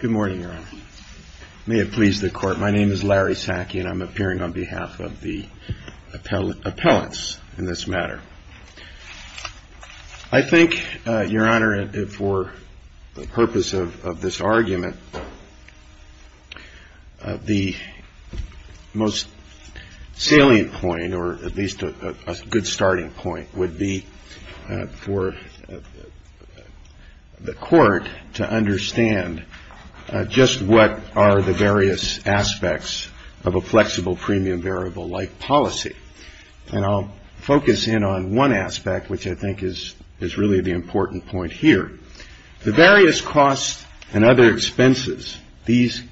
Good morning, Your Honor. May it please the Court, my name is Larry Sackey and I'm appearing on behalf of the appellants in this matter. I think, Your Honor, for the purpose of this hearing, or at least a good starting point, would be for the Court to understand just what are the various aspects of a flexible premium variable-like policy. And I'll focus in on one aspect, which I think is really the important point here. The various costs and other expenses, these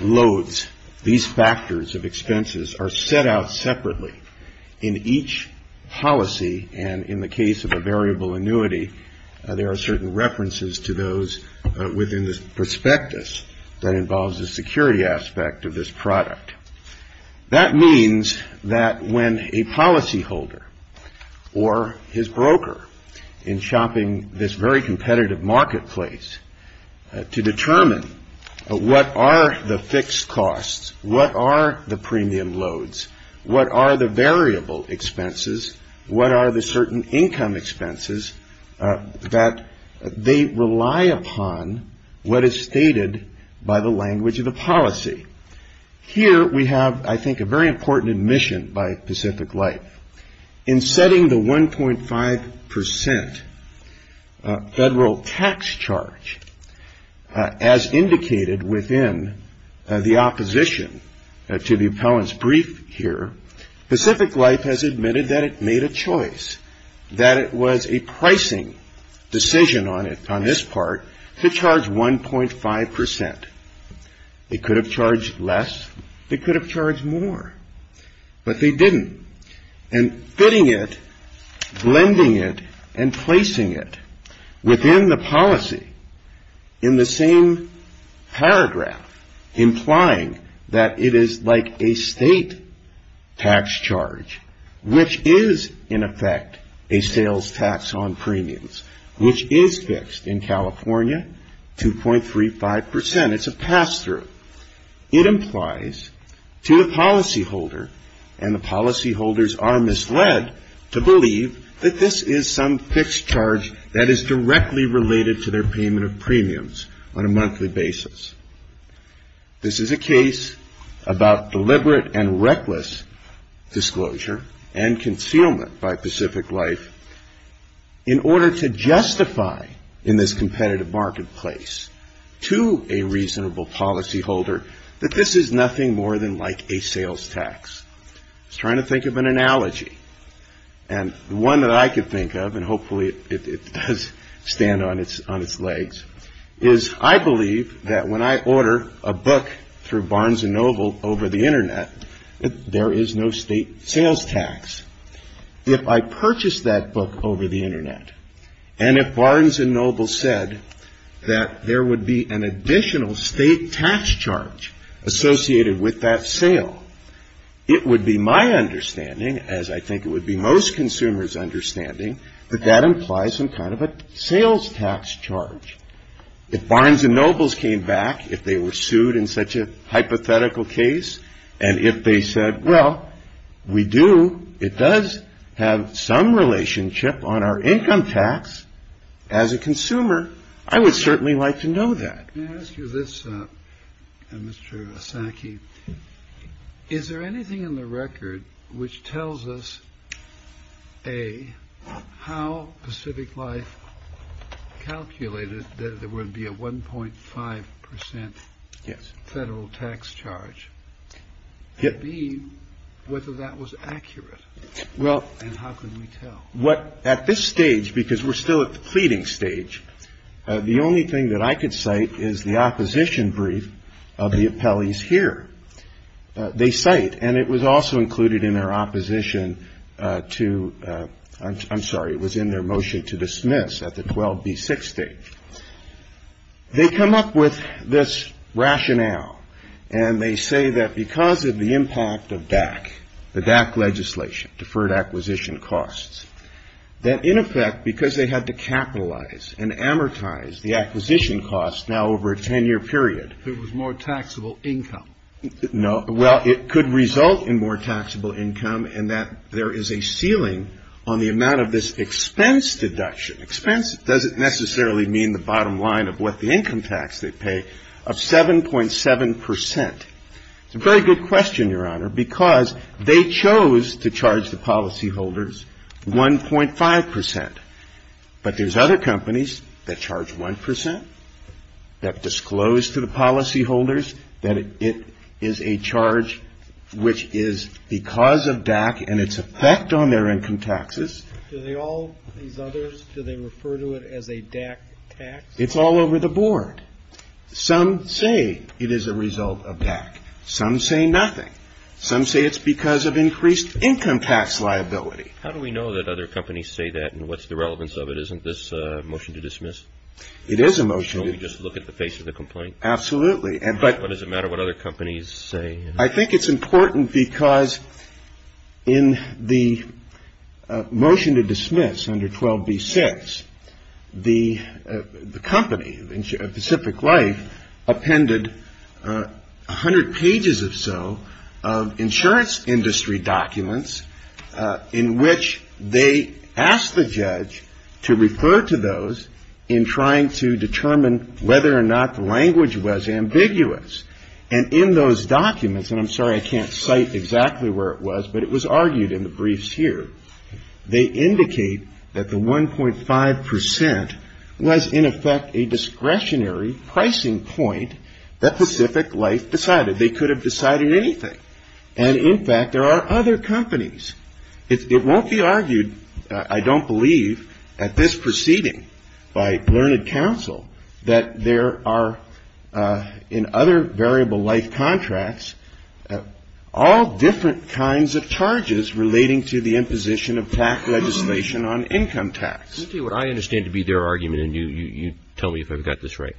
loads, these factors of expenses are set out separately in each policy. And in the case of a variable annuity, there are certain references to those within the prospectus that involves the security aspect of this product. That means that when a policyholder or his broker, in shopping this very competitive marketplace, to determine what are the fixed costs, what are the premium loads, what are the variable expenses, what are the certain income expenses, that they rely upon what is stated by the language of the policy. Here we have, I think, a very important admission by Pacific Life. In setting the 1.5 percent federal tax charge, as indicated within the opposition to the appellant's brief here, Pacific Life has admitted that it made a choice, that it was a pricing decision on this part, to charge 1.5 percent. They could have charged less. They could have charged more. But they didn't. And fitting it, blending it, and placing it within the policy in the same paragraph, implying that it is like a state tax charge, which is, in effect, a sales tax on premiums, which is fixed. In California, 2.35 percent. It's a pass-through. It implies to the policyholder, and the policyholders are misled to believe that this is some fixed charge that is directly related to their payment of premiums on a monthly basis. This is a to justify in this competitive marketplace to a reasonable policyholder that this is nothing more than like a sales tax. I was trying to think of an analogy. And the one that I could think of, and hopefully it does stand on its legs, is I believe that when I order a book through Barnes & Noble over the Internet, that there is no state sales tax. If I purchase that book over the Internet, and if Barnes & Noble said that there would be an additional state tax charge associated with that sale, it would be my understanding, as I think it would be most consumers' understanding, that that implies some kind of a sales tax charge. If Barnes & Noble came back, if they were sued in such a hypothetical case, and if they said, well, we do, it does have some relationship on our income tax, as a consumer, I would certainly like to know that. Let me ask you this, Mr. Osaki. Is there anything in the record which tells us, A, how Pacific Life calculated that there would be a 1.5 percent federal tax charge? B, whether that was accurate? And how can we tell? At this stage, because we're still at the pleading stage, the only thing that I could cite is the opposition brief of the appellees here. They cite, and it was also included in their opposition to, I'm sorry, it was in their motion to dismiss at the 12B6 stage. They come up with this rationale, and they say that because of the impact of DAC, the DAC legislation, Deferred Acquisition Costs, that in effect, because they had to capitalize and amortize the acquisition costs now over a 10-year period. It was more taxable income. No. Well, it could result in more taxable income, and that there is a ceiling on the amount of this expense deduction. Expense doesn't necessarily mean the bottom line of what the income tax they pay, of 7.7 percent. It's a very good question, Your Honor, because they chose to charge the policyholders 1.5 percent. But there's other companies that it is a charge which is because of DAC and its effect on their income taxes. Do they all, these others, do they refer to it as a DAC tax? It's all over the board. Some say it is a result of DAC. Some say nothing. Some say it's because of increased income tax liability. How do we know that other companies say that, and what's the relevance of it? Isn't this a motion to dismiss? It is a motion. Can't we just look at the face of the complaint? Absolutely. What does it matter what other companies say? I think it's important because in the motion to dismiss under 12b-6, the company, Pacific Life, appended 100 pages or so of insurance industry documents in which they asked the And in those documents, and I'm sorry I can't cite exactly where it was, but it was argued in the briefs here, they indicate that the 1.5 percent was, in effect, a discretionary pricing point that Pacific Life decided. They could have decided anything. And, in fact, there are other companies. It won't be argued, I don't believe, at this proceeding by Learned Counsel that there are in other variable life contracts all different kinds of charges relating to the imposition of tax legislation on income tax. Let me tell you what I understand to be their argument, and you tell me if I've got this right.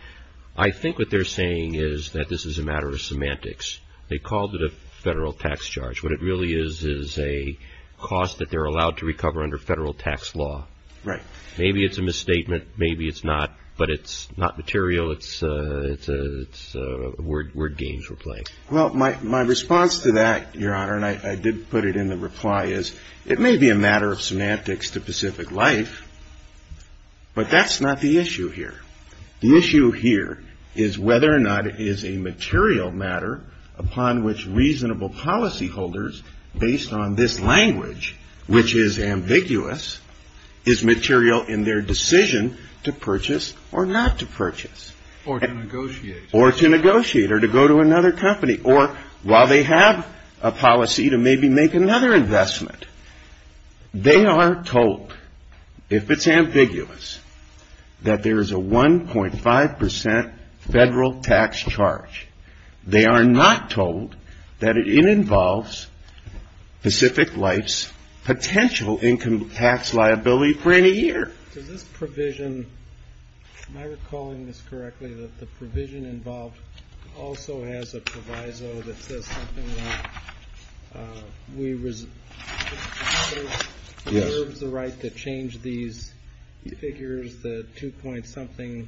I think what they're saying is that this is a matter of semantics. They called it a federal tax charge. What it really is is a cost that they're allowed to recover under federal tax law. Right. Maybe it's a misstatement. Maybe it's not. But it's not material. It's word games we're playing. Well, my response to that, Your Honor, and I did put it in the reply, is it may be a matter of semantics to Pacific Life, but that's not the issue here. The issue here is whether or not it is a material matter upon which reasonable policyholders, based on this language, which is ambiguous, is material in their decision to purchase or not to purchase. Or to negotiate. Or to negotiate, or to go to another company, or while they have a policy to maybe make another investment. They are told, if it's ambiguous, that there is a 1.5 percent federal tax charge. They are not told that it involves Pacific Life's potential income tax liability for any year. Does this provision, am I recalling this correctly, that the provision involved also has a proviso that says something like, we reserve the right to change these figures, the 2 point something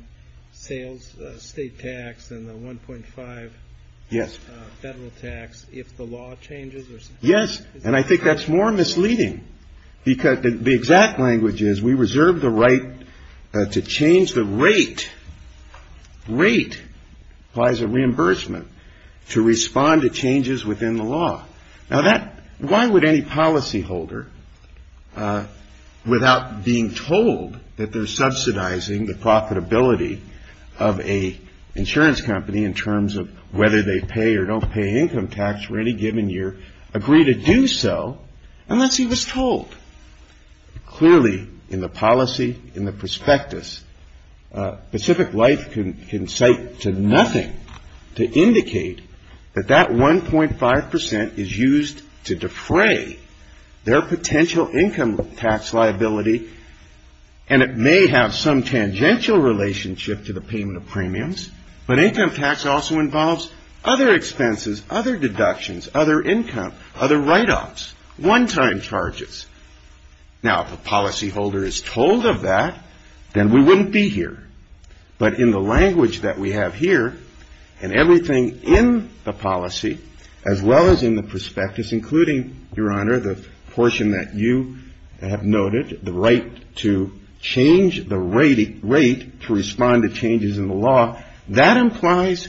sales, state tax, and the 1.5 federal tax, if the law changes? Yes. And I think that's more misleading. Because the exact language is, we reserve the right to change the rate. Rate applies to reimbursement, to respond to changes within the law. Now that, why would any policyholder, without being told that they're subsidizing the profitability of an insurance company in terms of whether they pay or don't pay income tax for any given year, agree to do so, unless he was told? Clearly in the policy, in the prospectus, Pacific Life can cite to nothing to indicate that that 1.5 percent is used to defray their potential income tax liability, and it may have some tangential relationship to the payment of premiums, but income tax also involves other expenses, other deductions, other income, other write-offs, one-time charges. Now if a policyholder is told of that, then we wouldn't be here. But in the language that we have here, and everything in the policy, as well as in the prospectus, including, Your the rate to respond to changes in the law, that implies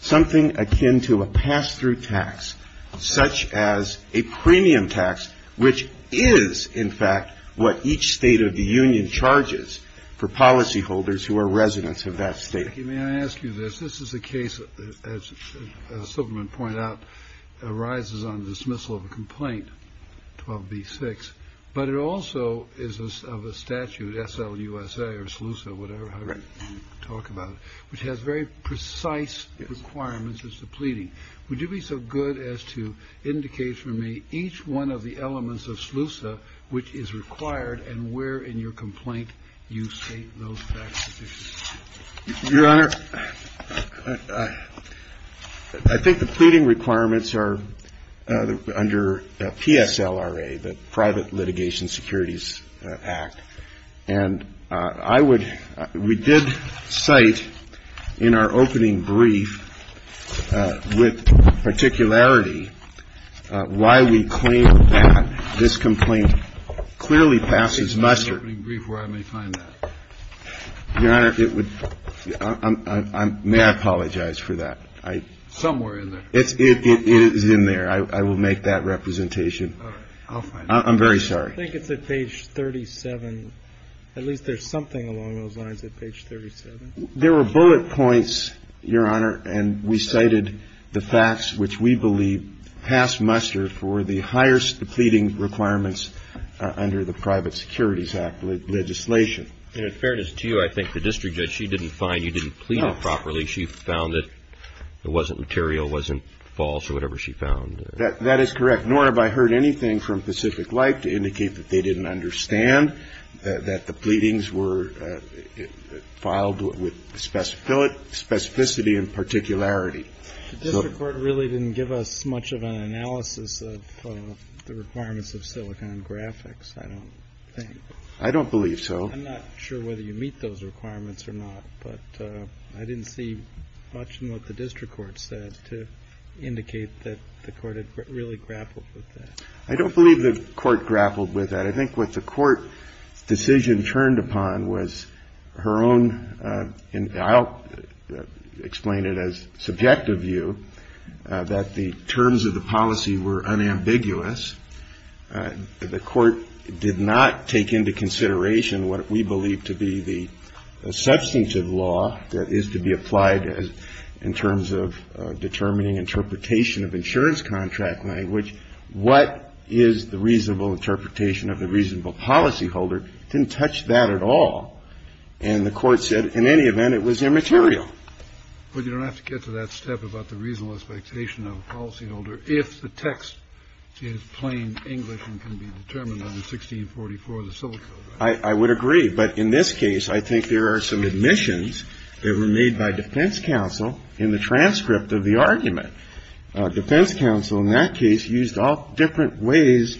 something akin to a pass-through tax, such as a premium tax, which is, in fact, what each state of the union charges for policyholders who are residents of that state. May I ask you this? This is a case, as Silberman pointed out, arises on dismissal of a complaint, 12b-6, but it also is of a statute, SLUSA or SLUSA, whatever, however you talk about it, which has very precise requirements as to pleading. Would you be so good as to indicate for me each one of the elements of SLUSA, which is required, and where in your complaint you state those facts that they should be stated? Your Honor, I think the pleading requirements are under PSLRA, the Private Litigation Securities Act. And I would – we did cite in our opening brief with particularity why we claim that this complaint clearly passes muster. And I think it's in the opening brief where I may find that. Your Honor, it would – may I apologize for that? Somewhere in there. It is in there. I will make that representation. All right. I'll find it. I'm very sorry. I think it's at page 37. At least there's something along those lines at page 37. There were bullet points, Your Honor, and we cited the facts which we believe pass muster. And then you have the pleading requirements under the private securities act legislation. In fairness to you, I think the district judge, she didn't find you didn't plead it properly. No. She found that it wasn't material, wasn't false, or whatever she found. That is correct. Nor have I heard anything from Pacific Light to indicate that they didn't understand that the pleadings were filed with specificity and particularity. The district court really didn't give us much of an analysis of the requirements of Silicon Graphics, I don't think. I don't believe so. I'm not sure whether you meet those requirements or not, but I didn't see much in what the district court said to indicate that the court had really grappled with that. I don't believe the court grappled with that. I think what the court decision turned upon was her own, and I'll explain it as an objective view, that the terms of the policy were unambiguous. The court did not take into consideration what we believe to be the substantive law that is to be applied in terms of determining interpretation of insurance contract language, what is the reasonable interpretation of the reasonable policy holder. It didn't touch that at all. And the court said in any event, it was immaterial. But you don't have to get to that step about the reasonable expectation of the policy holder if the text is plain English and can be determined on 1644 of the Silicon Graphics. I would agree. But in this case, I think there are some admissions that were made by defense counsel in the transcript of the argument. Defense counsel in that case used all different ways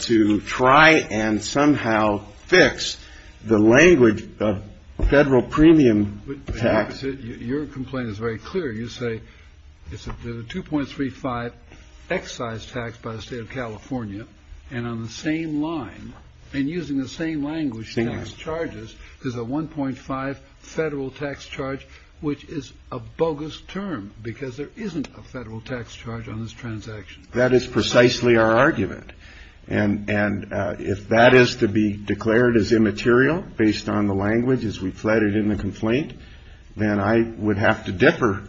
to try and somehow fix the language of federal premium tax. Your complaint is very clear. You say it's a two point three five excise tax by the state of California and on the same line and using the same language. Things charges is a one point five federal tax charge, which is a bogus term because there isn't a federal tax charge on this transaction. That is precisely our argument. And and if that is to be declared as immaterial based on the language as we flooded in the complaint, then I would have to differ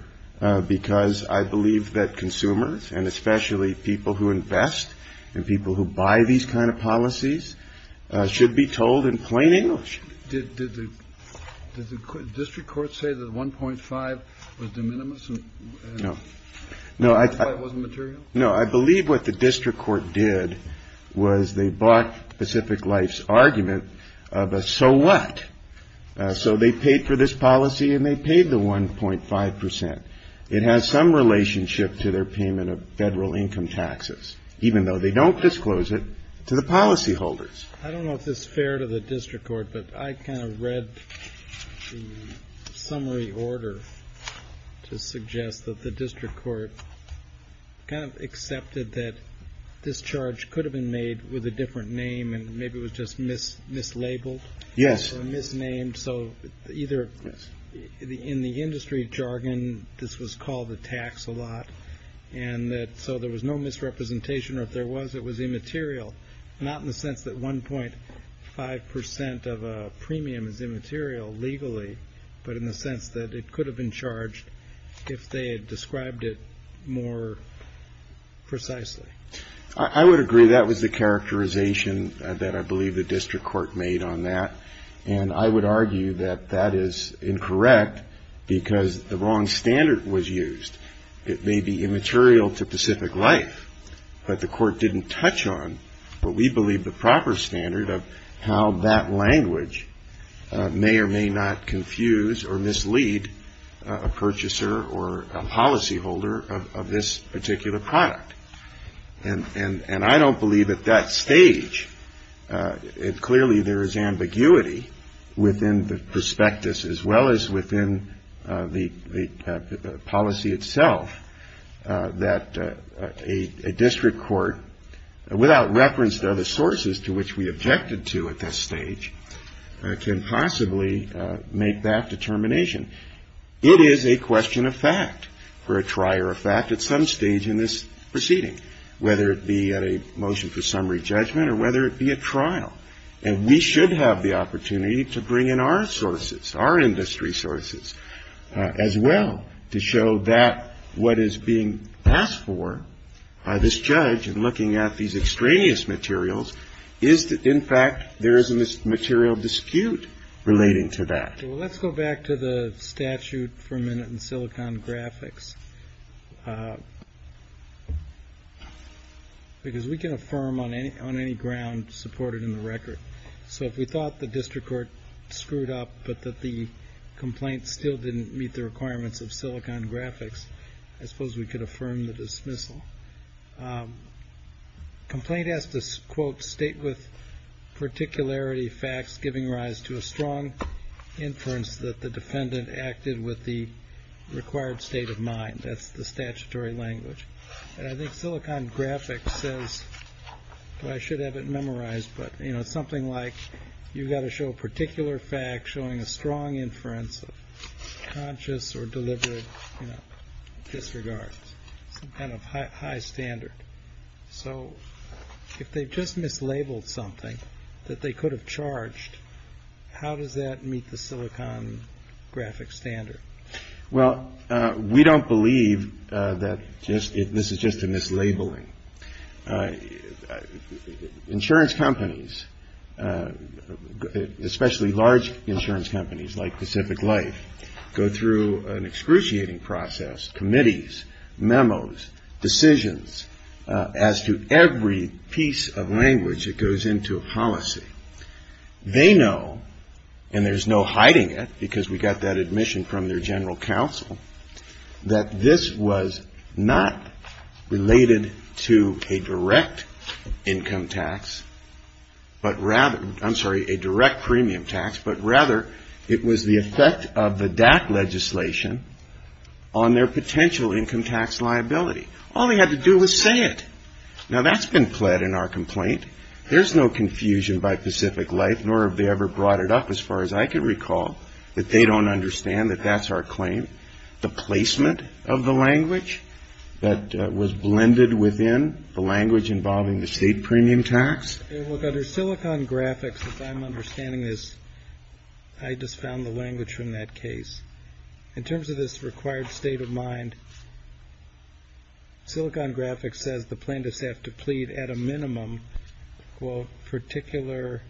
because I believe that consumers and especially people who invest in people who buy these kind of policies should be told in plain English. Did the district court say that one point five was de minimis? No, no, I thought it wasn't material. No, I believe what the district court did was they bought Pacific Life's argument of a so what? So they paid for this policy and they paid the one point five percent. It has some relationship to their payment of federal income taxes, even though they don't disclose it to the policyholders. I don't know if this is fair to the district court, but I kind of read the summary order to suggest that the district court kind of accepted that this charge could have been made with a different name and maybe it was just miss mislabeled. Yes. Miss named. So either in the industry jargon, this was called the tax a lot. And so there was no misrepresentation or if there was, it was immaterial. Not in the sense that one point five percent of a premium is immaterial legally, but in the sense that it could have been charged if they had described it more precisely. I would agree that was the characterization that I believe the district court made on that. And I would argue that that is incorrect because the wrong standard was used. It may be immaterial to Pacific Life, but the court didn't touch on what we believe the mislead, a purchaser or a policyholder of this particular product. And I don't believe at that stage it clearly there is ambiguity within the prospectus as well as within the policy itself that a district court without reference to other sources to which we objected to at this stage can possibly make that determination. It is a question of fact for a trier effect at some stage in this proceeding, whether it be at a motion for summary judgment or whether it be a trial. And we should have the opportunity to bring in our sources, our industry sources as well, to show that what is being asked for by this judge and looking at these extraneous materials is that, in fact, there is a material dispute relating to that. Well, let's go back to the statute for a minute in Silicon Graphics because we can affirm on any ground supported in the record. So if we thought the district court screwed up, but that the complaint still didn't meet the requirements of Silicon Graphics, I suppose we could affirm the dismissal. The complaint has to, quote, state with particularity facts giving rise to a strong inference that the defendant acted with the required state of mind. That's the statutory language. And I think Silicon Graphics says, I should have it memorized, but you know, something like you've got to show a particular fact showing a strong inference of conscious or So if they just mislabeled something that they could have charged, how does that meet the Silicon Graphics standard? Well, we don't believe that this is just a mislabeling. Insurance companies, especially large insurance companies like Pacific Life, go through an excruciating process, committees, memos, decisions as to every piece of language that goes into a policy. They know, and there's no hiding it because we got that admission from their general counsel, that this was not related to a direct income tax, but rather, I'm sorry, a DAC legislation on their potential income tax liability. All they had to do was say it. Now, that's been pled in our complaint. There's no confusion by Pacific Life, nor have they ever brought it up, as far as I can recall, that they don't understand that that's our claim. The placement of the language that was blended within the language involving the state premium tax. Look, under Silicon Graphics, as I'm understanding this, I just found the language from that case. In terms of this required state of mind, Silicon Graphics says the plaintiffs have to plead at a minimum, quote, particular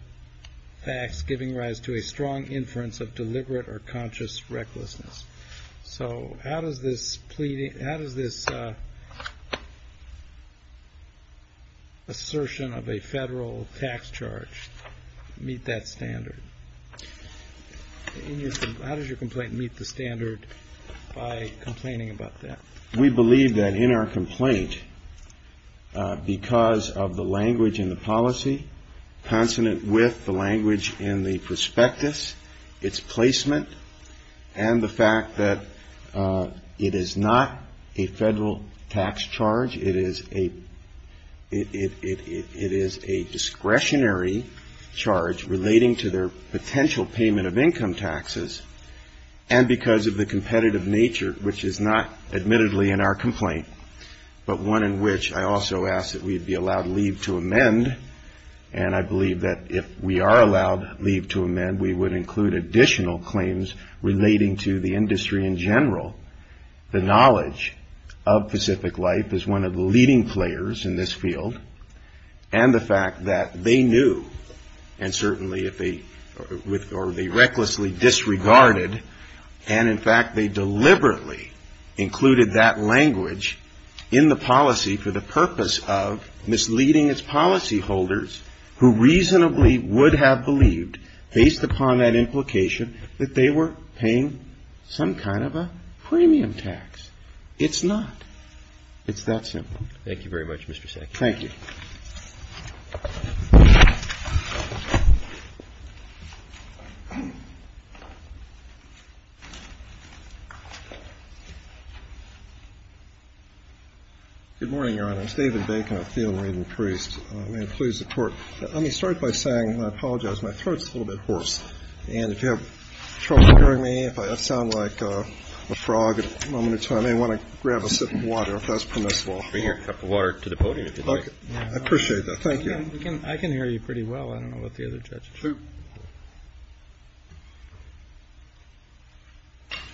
facts giving rise to a strong inference of deliberate or conscious recklessness. So how does this pleading, how does this assertion of a federal tax charge meet that standard? How does your complaint meet the standard by complaining about that? We believe that in our complaint, because of the language in the policy, consonant with the language in the prospectus, its placement and the fact that it is not a federal tax charge, it is a discretionary charge relating to their potential payment of income taxes. And because of the competitive nature, which is not admittedly in our complaint, but one in which I also ask that we'd be allowed leave to amend. And I believe that if we are allowed leave to amend, we would include additional claims relating to the industry in general. The knowledge of Pacific Life is one of the leading players in this field. And the fact that they knew, and certainly if they, or they recklessly disregarded, and in fact, they deliberately included that language in the policy for the purpose of misleading its policyholders, who reasonably would have believed, based upon that implication, that they were paying some kind of a premium tax. It's not. It's that simple. Thank you very much, Mr. Sack. Thank you. Good morning, Your Honor. I'm David Bacon, a field-reading priest. May it please the Court. Let me start by saying, and I apologize, my throat's a little bit hoarse. And if you have trouble hearing me, if I sound like a frog at a moment in time, I may want to grab a sip of water, if that's permissible. I appreciate that. Thank you. I can hear you pretty well. I don't know about the other judges.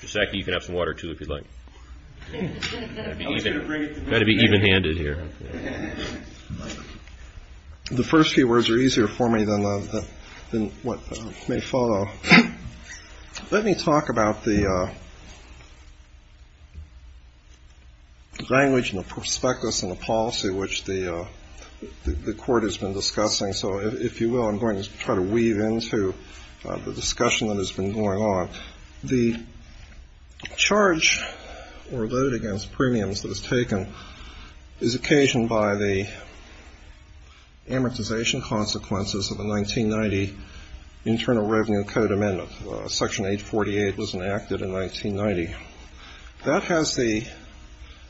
Mr. Sack, you can have some water, too, if you'd like. Got to be even-handed here. The first few words are easier for me than what may follow. Let me talk about the language and the prospectus and the policy which the Court has been discussing. So if you will, I'm going to try to weave into the discussion that has been going on. The charge or load against premiums that is taken is occasioned by the amortization consequences of the 1990 Internal Revenue and Code Amendment. Section 848 was enacted in 1990. That has the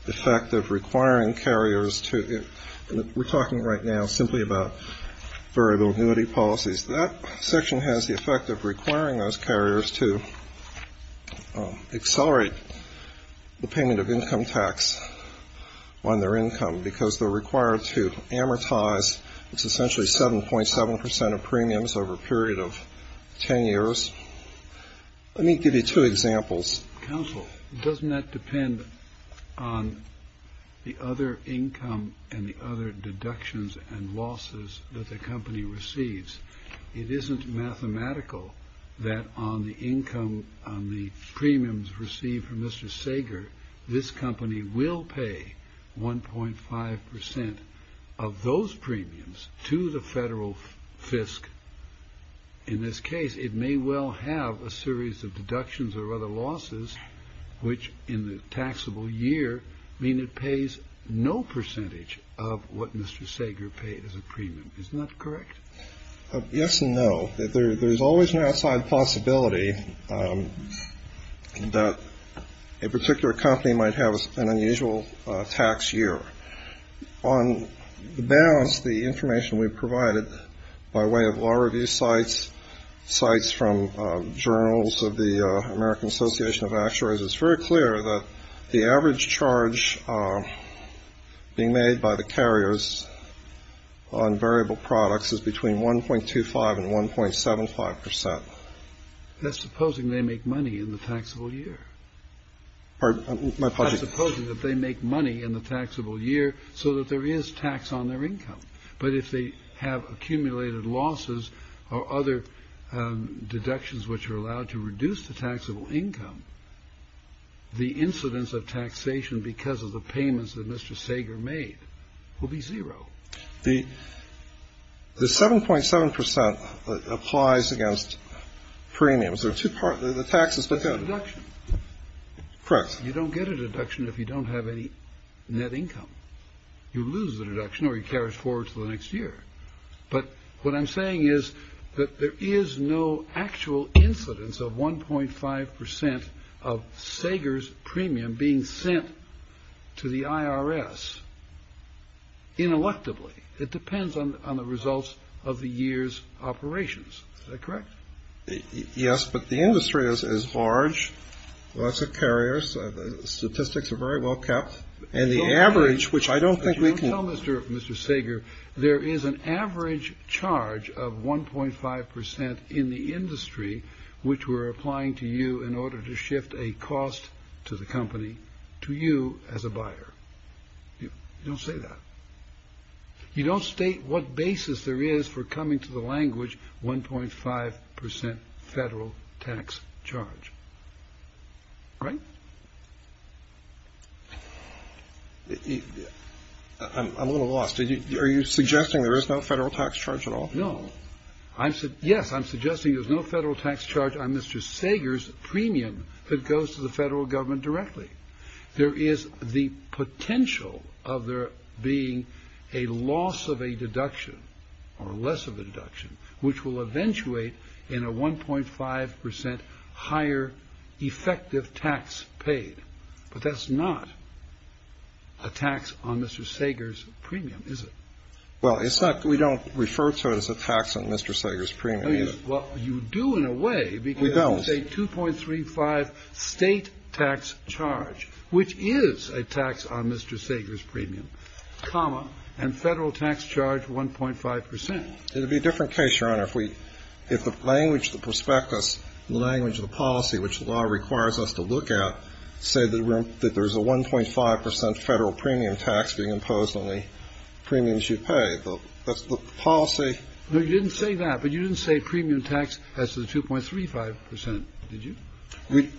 effect of requiring carriers to we're talking right now simply about variable annuity policies. That section has the effect of requiring those carriers to accelerate the payment of income tax on their income because they're required to amortize. It's essentially 7.7 percent of premiums over a period of 10 years. Let me give you two examples. Counsel, doesn't that depend on the other income and the other deductions and losses that the company receives? It isn't mathematical that on the income on the premiums received from Mr. Sager, this company will pay 1.5 percent of those premiums to the federal fisc. In this case, it may well have a series of deductions or other losses, which in the taxable year mean it pays no percentage of what Mr. Sager paid as a premium. Isn't that correct? Yes and no. There's always an outside possibility that a particular company might have an unusual tax year. On the balance, the information we've provided by way of law review sites, sites from journals of the American Association of Actuaries, it's very clear that the average charge being made by the carriers on variable products is between 1.25 and 1.75 percent. That's supposing they make money in the taxable year. Pardon, my apologies. That's supposing that they make money in the taxable year so that there is tax on their income. But if they have accumulated losses or other deductions which are allowed to reduce the taxable income, the incidence of taxation because of the payments that Mr. Sager made will be zero. The 7.7 percent applies against premiums. The two parts of the taxes, the deduction. Correct. You don't get a deduction if you don't have any net income. You lose the deduction or you carry it forward to the next year. But what I'm saying is that there is no actual incidence of 1.5 percent of Sager's premium being sent to the IRS ineluctably. It depends on the results of the year's operations. Is that correct? Yes. But the industry is as large as a carrier. Statistics are very well kept and the average, which I don't think we can tell Mr. Mr. Sager, there is an average charge of 1.5 percent in the industry, which we're applying to you in order to shift a cost to the company, to you as a buyer. Don't say that. You don't state what basis there is for coming to the language. 1.5 percent federal tax charge. Right. I'm a little lost. Are you suggesting there is no federal tax charge at all? No. I said yes. I'm suggesting there's no federal tax charge on Mr. Sager's premium that goes to the federal government directly. There is the potential of there being a loss of a deduction or less of a deduction, which will eventuate in a 1.5 percent higher effective tax paid. But that's not a tax on Mr. Sager's premium, is it? Well, it's not. We don't refer to it as a tax on Mr. Sager's premium. Well, you do in a way because it's a 2.35 state tax charge, which is a tax on Mr. Sager's premium, comma, and federal tax charge 1.5 percent. It would be a different case, Your Honor, if we if the language, the prospectus, the language of the policy, which the law requires us to look at, say that there's a 1.5 percent federal premium tax being imposed on the premiums you pay. That's the policy. No, you didn't say that, but you didn't say premium tax as to the 2.35 percent, did you?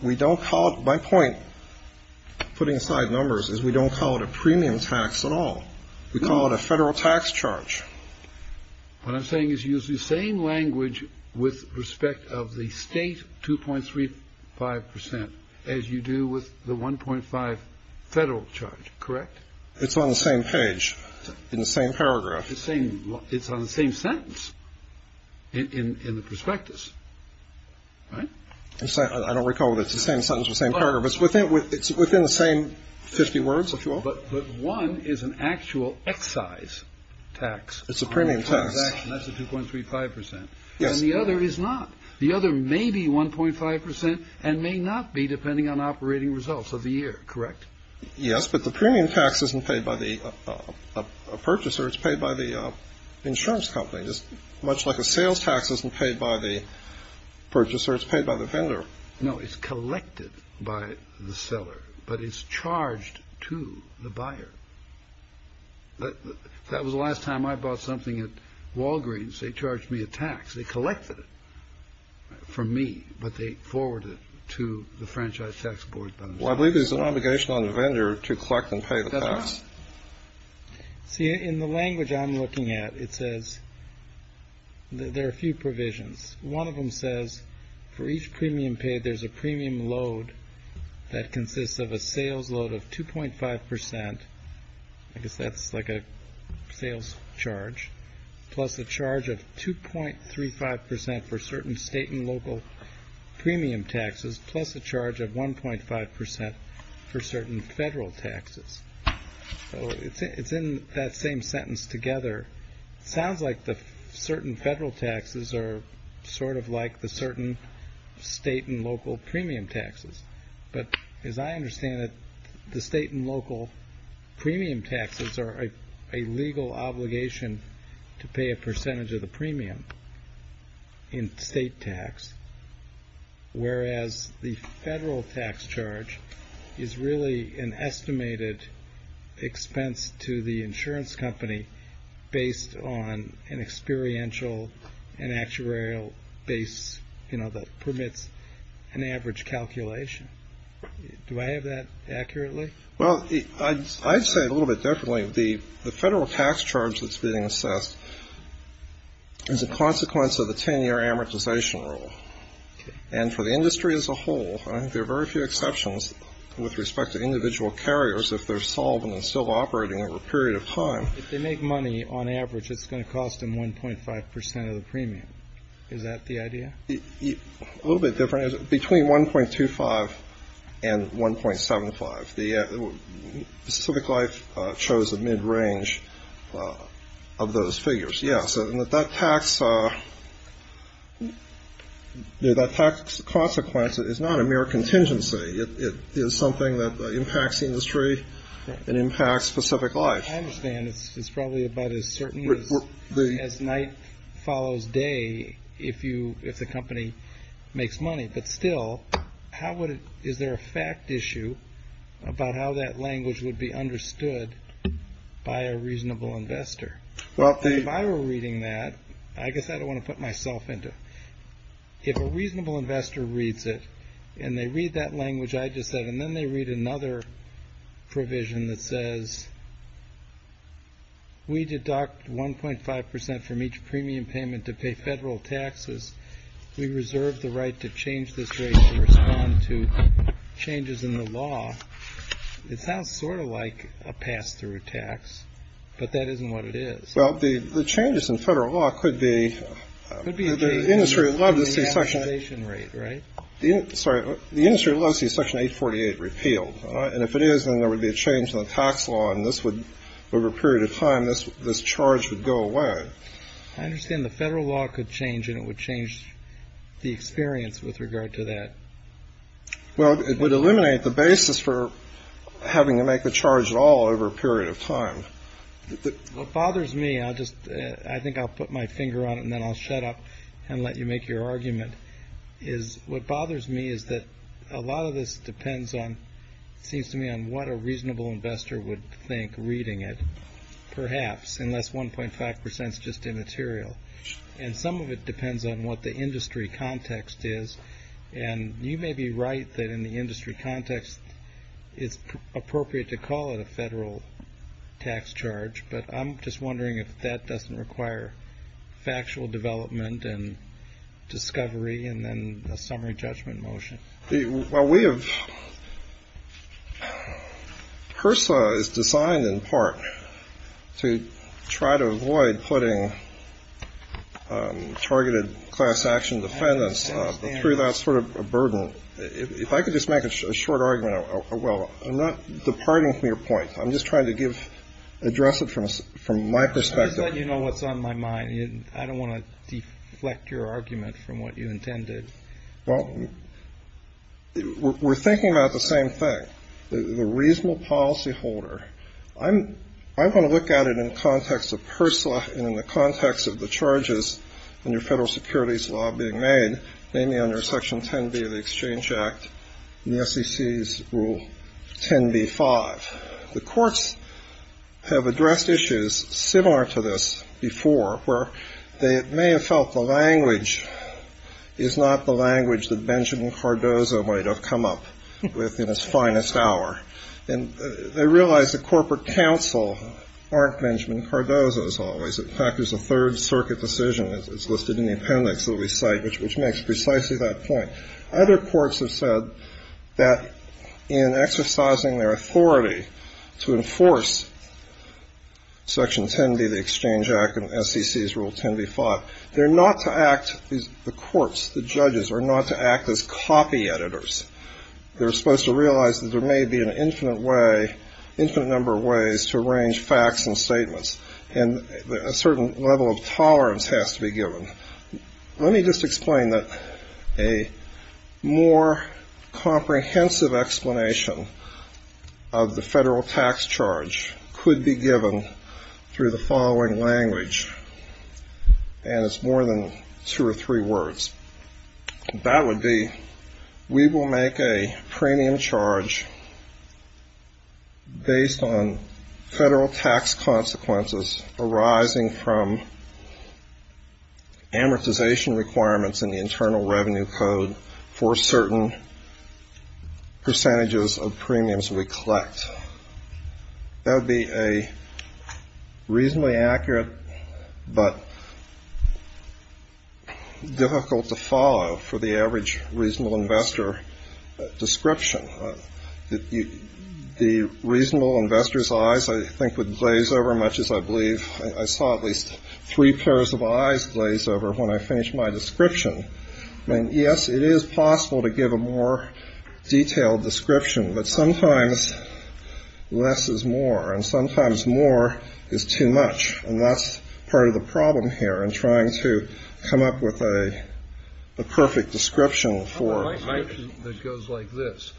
We don't call it. My point, putting aside numbers, is we don't call it a premium tax at all. We call it a federal tax charge. What I'm saying is you use the same language with respect of the state 2.35 percent as you do with the 1.5 federal charge. Correct. It's on the same page in the same paragraph. It's saying it's on the same sentence in the prospectus. Right. I don't recall that it's the same sentence, the same paragraph. It's within the same 50 words, if you will. But one is an actual excise tax. It's a premium tax. That's a 2.35 percent. Yes. And the other is not. The other may be 1.5 percent and may not be, depending on operating results of the year. Correct. Yes. But the premium tax isn't paid by the purchaser. It's paid by the insurance company, just much like a sales tax isn't paid by the purchaser. It's paid by the vendor. No, it's collected by the seller, but it's charged to the buyer. That was the last time I bought something at Walgreens. They charged me a tax. They collected it from me, but they forwarded it to the Franchise Tax Board. Well, I believe there's an obligation on the vendor to collect and pay the tax. See, in the language I'm looking at, it says there are a few provisions. One of them says for each premium paid, there's a premium load that consists of a sales load of 2.5 percent. I guess that's like a sales charge, plus the charge of 2.35 percent for certain state and local premium taxes, plus a charge of 1.5 percent for certain federal taxes. So it's in that same sentence together. It sounds like the certain federal taxes are sort of like the certain state and local premium taxes. But as I understand it, the state and local premium taxes are a legal obligation to pay a percentage of the premium in state tax. Whereas the federal tax charge is really an estimated expense to the insurance company based on an experiential and actuarial base, you know, that permits an average calculation. Do I have that accurately? Well, I'd say a little bit differently. The federal tax charge that's being assessed is a consequence of the 10-year amortization rule. And for the industry as a whole, I think there are very few exceptions with respect to individual carriers if they're solvent and still operating over a period of time. If they make money on average, it's going to cost them 1.5 percent of the premium. Is that the idea? A little bit different. Between 1.25 and 1.75, the Pacific Life chose a mid-range of those figures. Yes, and that tax consequence is not a mere contingency. It is something that impacts industry and impacts Pacific Life. I understand. It's probably about as certain as night follows day if the company makes money. But still, is there a fact issue about how that language would be understood by a reasonable investor? Well, if I were reading that, I guess I don't want to put myself into it. A reasonable investor reads it and they read that language I just said, and then they read another provision that says. We deduct 1.5 percent from each premium payment to pay federal taxes. We reserve the right to change this rate to respond to changes in the law. It sounds sort of like a pass-through tax, but that isn't what it is. Well, the changes in federal law could be the industry. Love to see Section 848 repealed. And if it is, then there would be a change in the tax law. And this would, over a period of time, this this charge would go away. I understand the federal law could change and it would change the experience with regard to that. Well, it would eliminate the basis for having to make a charge at all over a period of time. What bothers me, I just I think I'll put my finger on it and then I'll shut up and let you make your argument. Is what bothers me is that a lot of this depends on seems to me on what a reasonable investor would think reading it. Perhaps unless 1.5 percent is just immaterial. And some of it depends on what the industry context is. And you may be right that in the industry context, it's appropriate to call it a federal tax charge. But I'm just wondering if that doesn't require factual development and discovery and then a summary judgment motion. Well, we have. HRSA is designed in part to try to avoid putting targeted class action defendants through that sort of a burden. If I could just make a short argument. Well, I'm not departing from your point. I'm just trying to give address it from us, from my perspective, you know, what's on my mind. I don't want to deflect your argument from what you intended. Well, we're thinking about the same thing, the reasonable policy holder. I'm I'm going to look at it in context of personal and in the context of the charges and your federal securities law being made. Namely under Section 10b of the Exchange Act, the SEC's Rule 10b-5. The courts have addressed issues similar to this before where they may have felt the language is not the language that Benjamin Cardozo might have come up with in his finest hour. And they realize the corporate counsel aren't Benjamin Cardozo as always. In fact, there's a third circuit decision that's listed in the appendix that we cite, which makes precisely that point. Other courts have said that in exercising their authority to enforce Section 10b of the Exchange Act and SEC's Rule 10b-5, they're not to act, the courts, the judges are not to act as copy editors. They're supposed to realize that there may be an infinite way, infinite number of ways to arrange facts and statements. And a certain level of tolerance has to be given. Let me just explain that a more comprehensive explanation of the federal tax charge could be given through the following language. And it's more than two or three words. That would be, we will make a premium charge based on federal tax consequences arising from amortization requirements in the Internal Revenue Code for certain percentages of premiums we collect. That would be a reasonably accurate, but difficult to follow for the average reasonable investor description. The reasonable investor's eyes, I think, would glaze over much as I believe I saw at least three pairs of eyes glaze over when I finished my description. I mean, yes, it is possible to give a more detailed description, but sometimes less is more and sometimes more is too much. And that's part of the problem here in trying to come up with a perfect description for that goes like this.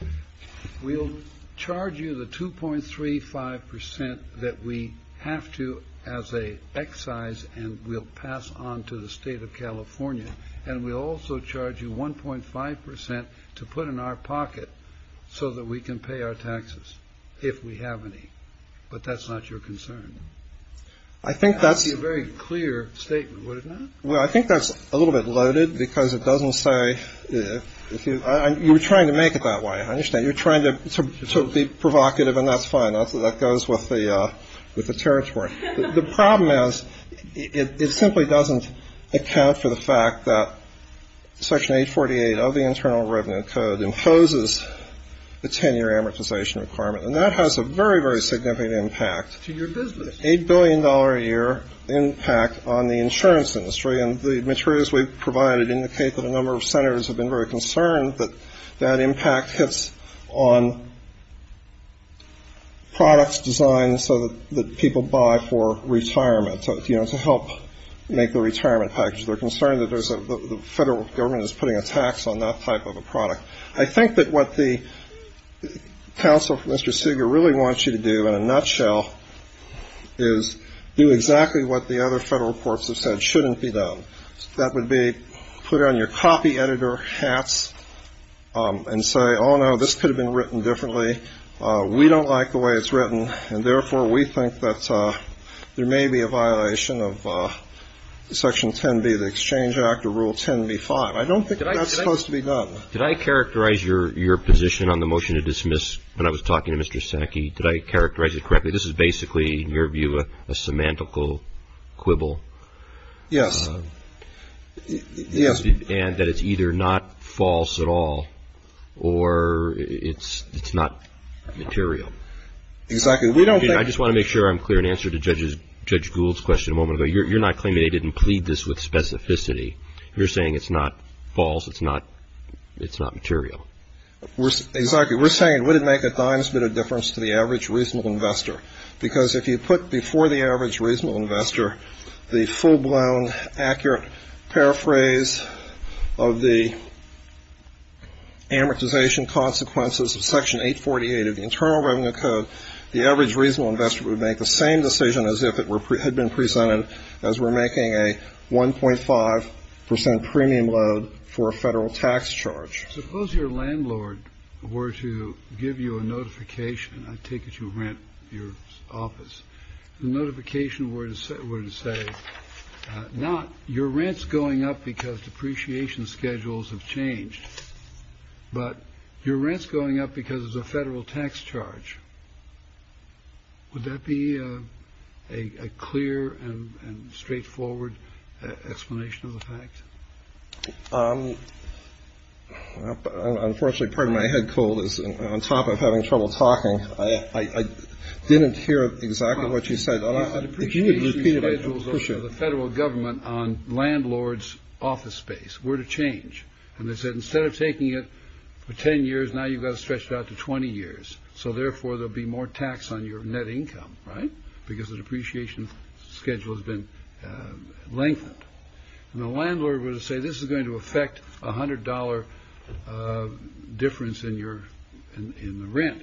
We'll charge you the two point three five percent that we have to as a excise and we'll pass on to the state of California. And we also charge you one point five percent to put in our pocket so that we can pay our taxes if we have any. But that's not your concern. I think that's a very clear statement. Well, I think that's a little bit loaded because it doesn't say if you were trying to make it that way. I understand you're trying to be provocative and that's fine. That goes with the with the territory. The problem is it simply doesn't account for the fact that Section 848 of the Internal Revenue Code imposes the 10 year amortization requirement. And that has a very, very significant impact to your business, a billion dollar a year impact on the insurance industry. And the materials we've provided indicate that a number of senators have been very concerned that that impact hits on. Products designed so that people buy for retirement, you know, to help make the retirement package. They're concerned that the federal government is putting a tax on that type of a product. I think that what the counsel, Mr. Seager, really wants you to do in a nutshell is do exactly what the other federal courts have said shouldn't be done. That would be put on your copy editor hats and say, oh, no, this could have been written differently. We don't like the way it's written, and therefore we think that there may be a violation of Section 10b, the Exchange Act or Rule 10b-5. I don't think that's supposed to be done. Did I characterize your your position on the motion to dismiss when I was talking to Mr. Seneke? Did I characterize it correctly? This is basically, in your view, a semantical quibble. Yes. Yes. And that it's either not false at all or it's it's not material. Exactly. We don't think I just want to make sure I'm clear and answer to Judge Gould's question a moment ago. You're not claiming they didn't plead this with specificity. You're saying it's not false. It's not it's not material. Exactly. We're saying it wouldn't make a dime's bit of difference to the average reasonable investor, because if you put before the average reasonable investor, the full-blown, accurate paraphrase of the amortization consequences of Section 848 of the Internal Revenue Code, the average reasonable investor would make the same decision as if it had been presented as we're making a 1.5 percent premium load for a federal tax charge. Suppose your landlord were to give you a notification, I take it you rent your office, notification where to sit, where to say not your rent's going up because depreciation schedules have changed, but your rent's going up because of the federal tax charge. Would that be a clear and straightforward explanation of the fact? Unfortunately, part of my head cold is on top of having trouble talking. I didn't hear exactly what you said. If you would repeat it, the federal government on landlords office space were to change and they said instead of taking it for 10 years, now you've got to stretch it out to 20 years. So therefore, there'll be more tax on your net income. Right. Because the depreciation schedule has been lengthened and the landlord would say this is going to affect a hundred dollar difference in your rent.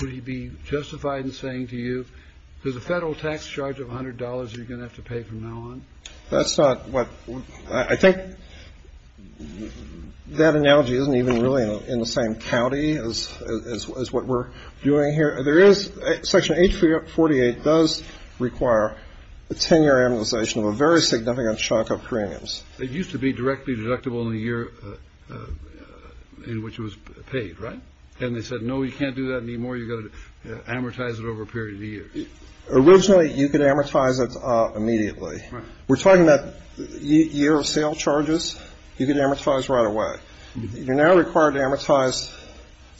Would he be justified in saying to you, there's a federal tax charge of one hundred dollars you're going to have to pay from now on? That's not what I think that analogy isn't even really in the same county as what we're doing here. There is Section 848 does require a 10 year amortization of a very significant shock of premiums. It used to be directly deductible in the year in which it was paid. Right. And they said, no, you can't do that. Any more, you're going to amortize it over a period of years. Originally, you could amortize it immediately. We're talking about a year of sale charges. You can amortize right away. You're now required to amortize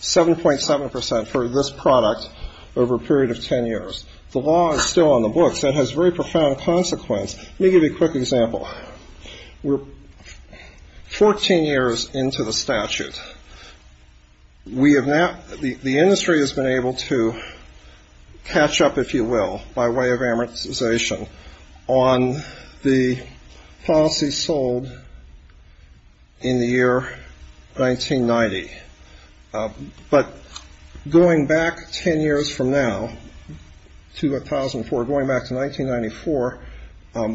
7.7 percent for this product over a period of 10 years. The law is still on the books. That has very profound consequence. Let me give you a quick example. We're 14 years into the statute. We have now the industry has been able to catch up, if you will, by way of amortization on the policy sold in the year 1990. But going back 10 years from now to 2004, going back to 1994,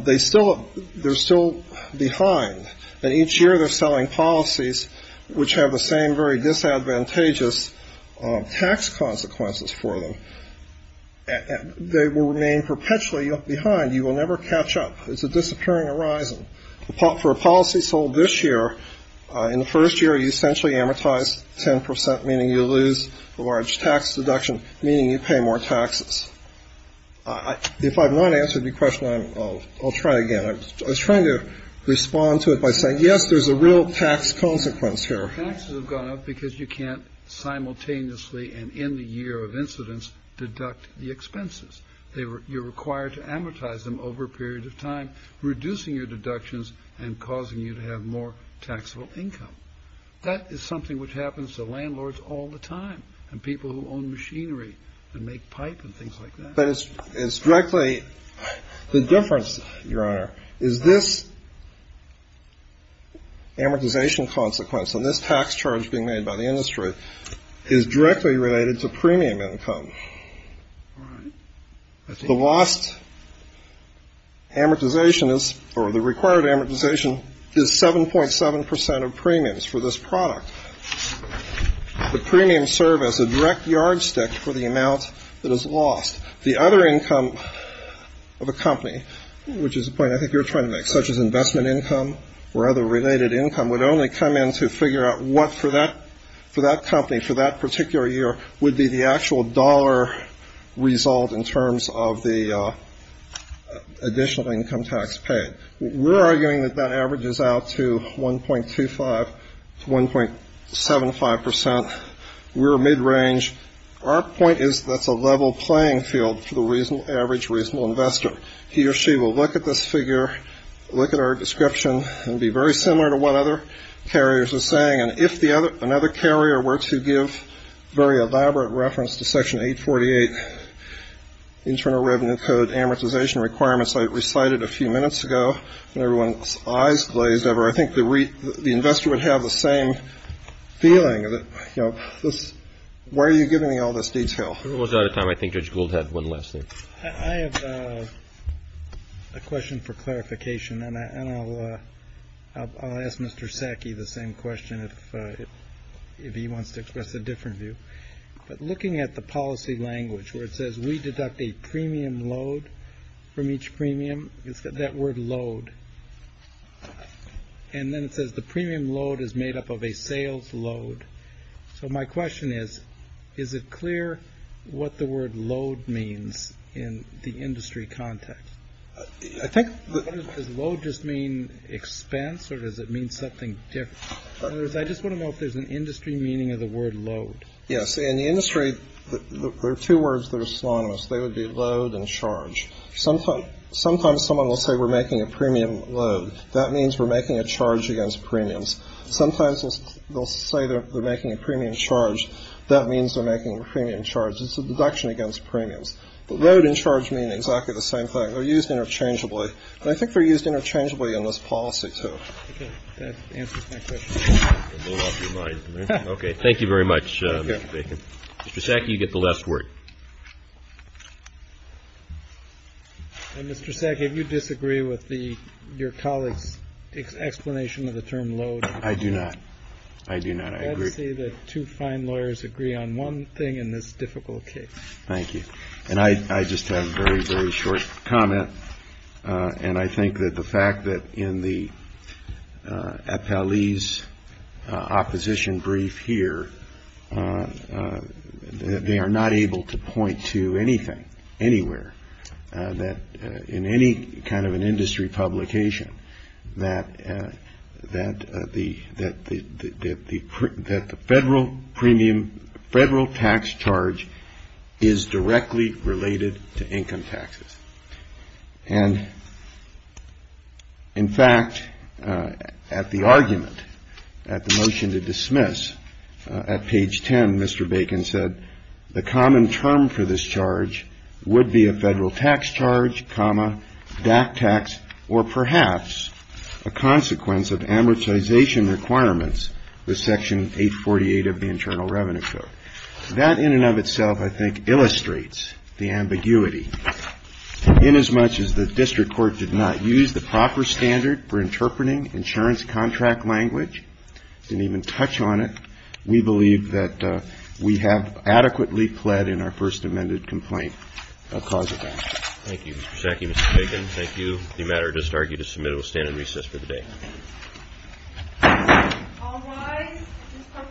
they still they're still behind. And each year they're selling policies which have the same very disadvantageous tax consequences for them. They will remain perpetually behind. You will never catch up. It's a disappearing horizon for a policy sold this year. In the first year, you essentially amortize 10 percent, meaning you lose a large tax deduction, meaning you pay more taxes. If I've not answered your question, I'll try again. I was trying to respond to it by saying, yes, there's a real tax consequence here. Taxes have gone up because you can't simultaneously and in the year of incidence deduct the expenses. You're required to amortize them over a period of time, reducing your deductions and causing you to have more taxable income. That is something which happens to landlords all the time and people who own machinery and make pipe and things like that. But it's it's directly the difference, Your Honor, is this. Amortization consequence on this tax charge being made by the industry is directly related to premium income. The lost. Amortization is or the required amortization is seven point seven percent of premiums for this product. The premiums serve as a direct yardstick for the amount that is lost. The other income of a company, which is a point I think you're trying to make, such as investment income or other related income, would only come in to figure out what for that for that company for that particular year would be the actual dollar result in terms of the additional income tax paid. We're arguing that that averages out to one point two five to one point seven five percent. We're mid range. Our point is that's a level playing field for the reason average reasonable investor. He or she will look at this figure, look at our description and be very similar to what other carriers are saying. And if the other another carrier were to give very elaborate reference to Section 848 Internal Revenue Code amortization requirements, I recited a few minutes ago and everyone's eyes glazed over. I think the the investor would have the same feeling that, you know, this. Why are you giving me all this detail? We're out of time. I think George Gould had one last thing. I have a question for clarification and I'll ask Mr. Sackey the same question if he wants to express a different view. But looking at the policy language where it says we deduct a premium load from each premium, it's got that word load. And then it says the premium load is made up of a sales load. So my question is, is it clear what the word load means in the industry context? I think the load just mean expense or does it mean something different? I just want to know if there's an industry meaning of the word load. Yes. In the industry, there are two words that are synonymous. They would be load and charge. Sometimes sometimes someone will say we're making a premium load. That means we're making a charge against premiums. Sometimes they'll say they're making a premium charge. That means they're making a premium charge. It's a deduction against premiums. The load and charge mean exactly the same thing. They're used interchangeably. I think they're used interchangeably in this policy, too. That answers my question. OK. Thank you very much. Mr. Sackey, you get the last word. Mr. Sackey, do you disagree with your colleague's explanation of the term load? I do not. I do not. I agree that two fine lawyers agree on one thing in this difficult case. Thank you. And I just have a very, very short comment. And I think that the fact that in the appellee's opposition brief here, that they are not able to point to anything, anywhere, that in any kind of an industry publication, that the federal premium, federal tax charge is directly related to income taxes. And, in fact, at the argument, at the motion to dismiss, at page 10, Mr. Bacon said, the common term for this charge would be a federal tax charge, comma, DAC tax, or perhaps a consequence of amortization requirements with Section 848 of the Internal Revenue Code. That, in and of itself, I think, illustrates the ambiguity. Inasmuch as the district court did not use the proper standard for interpreting insurance contract language, didn't even touch on it, we believe that we have adequately pled in our first amended complaint a cause of action. Thank you, Mr. Sackey, Mr. Bacon. Thank you. The matter does argue to submit. It will stand in recess for the day. All rise. This court for this session is adjourned.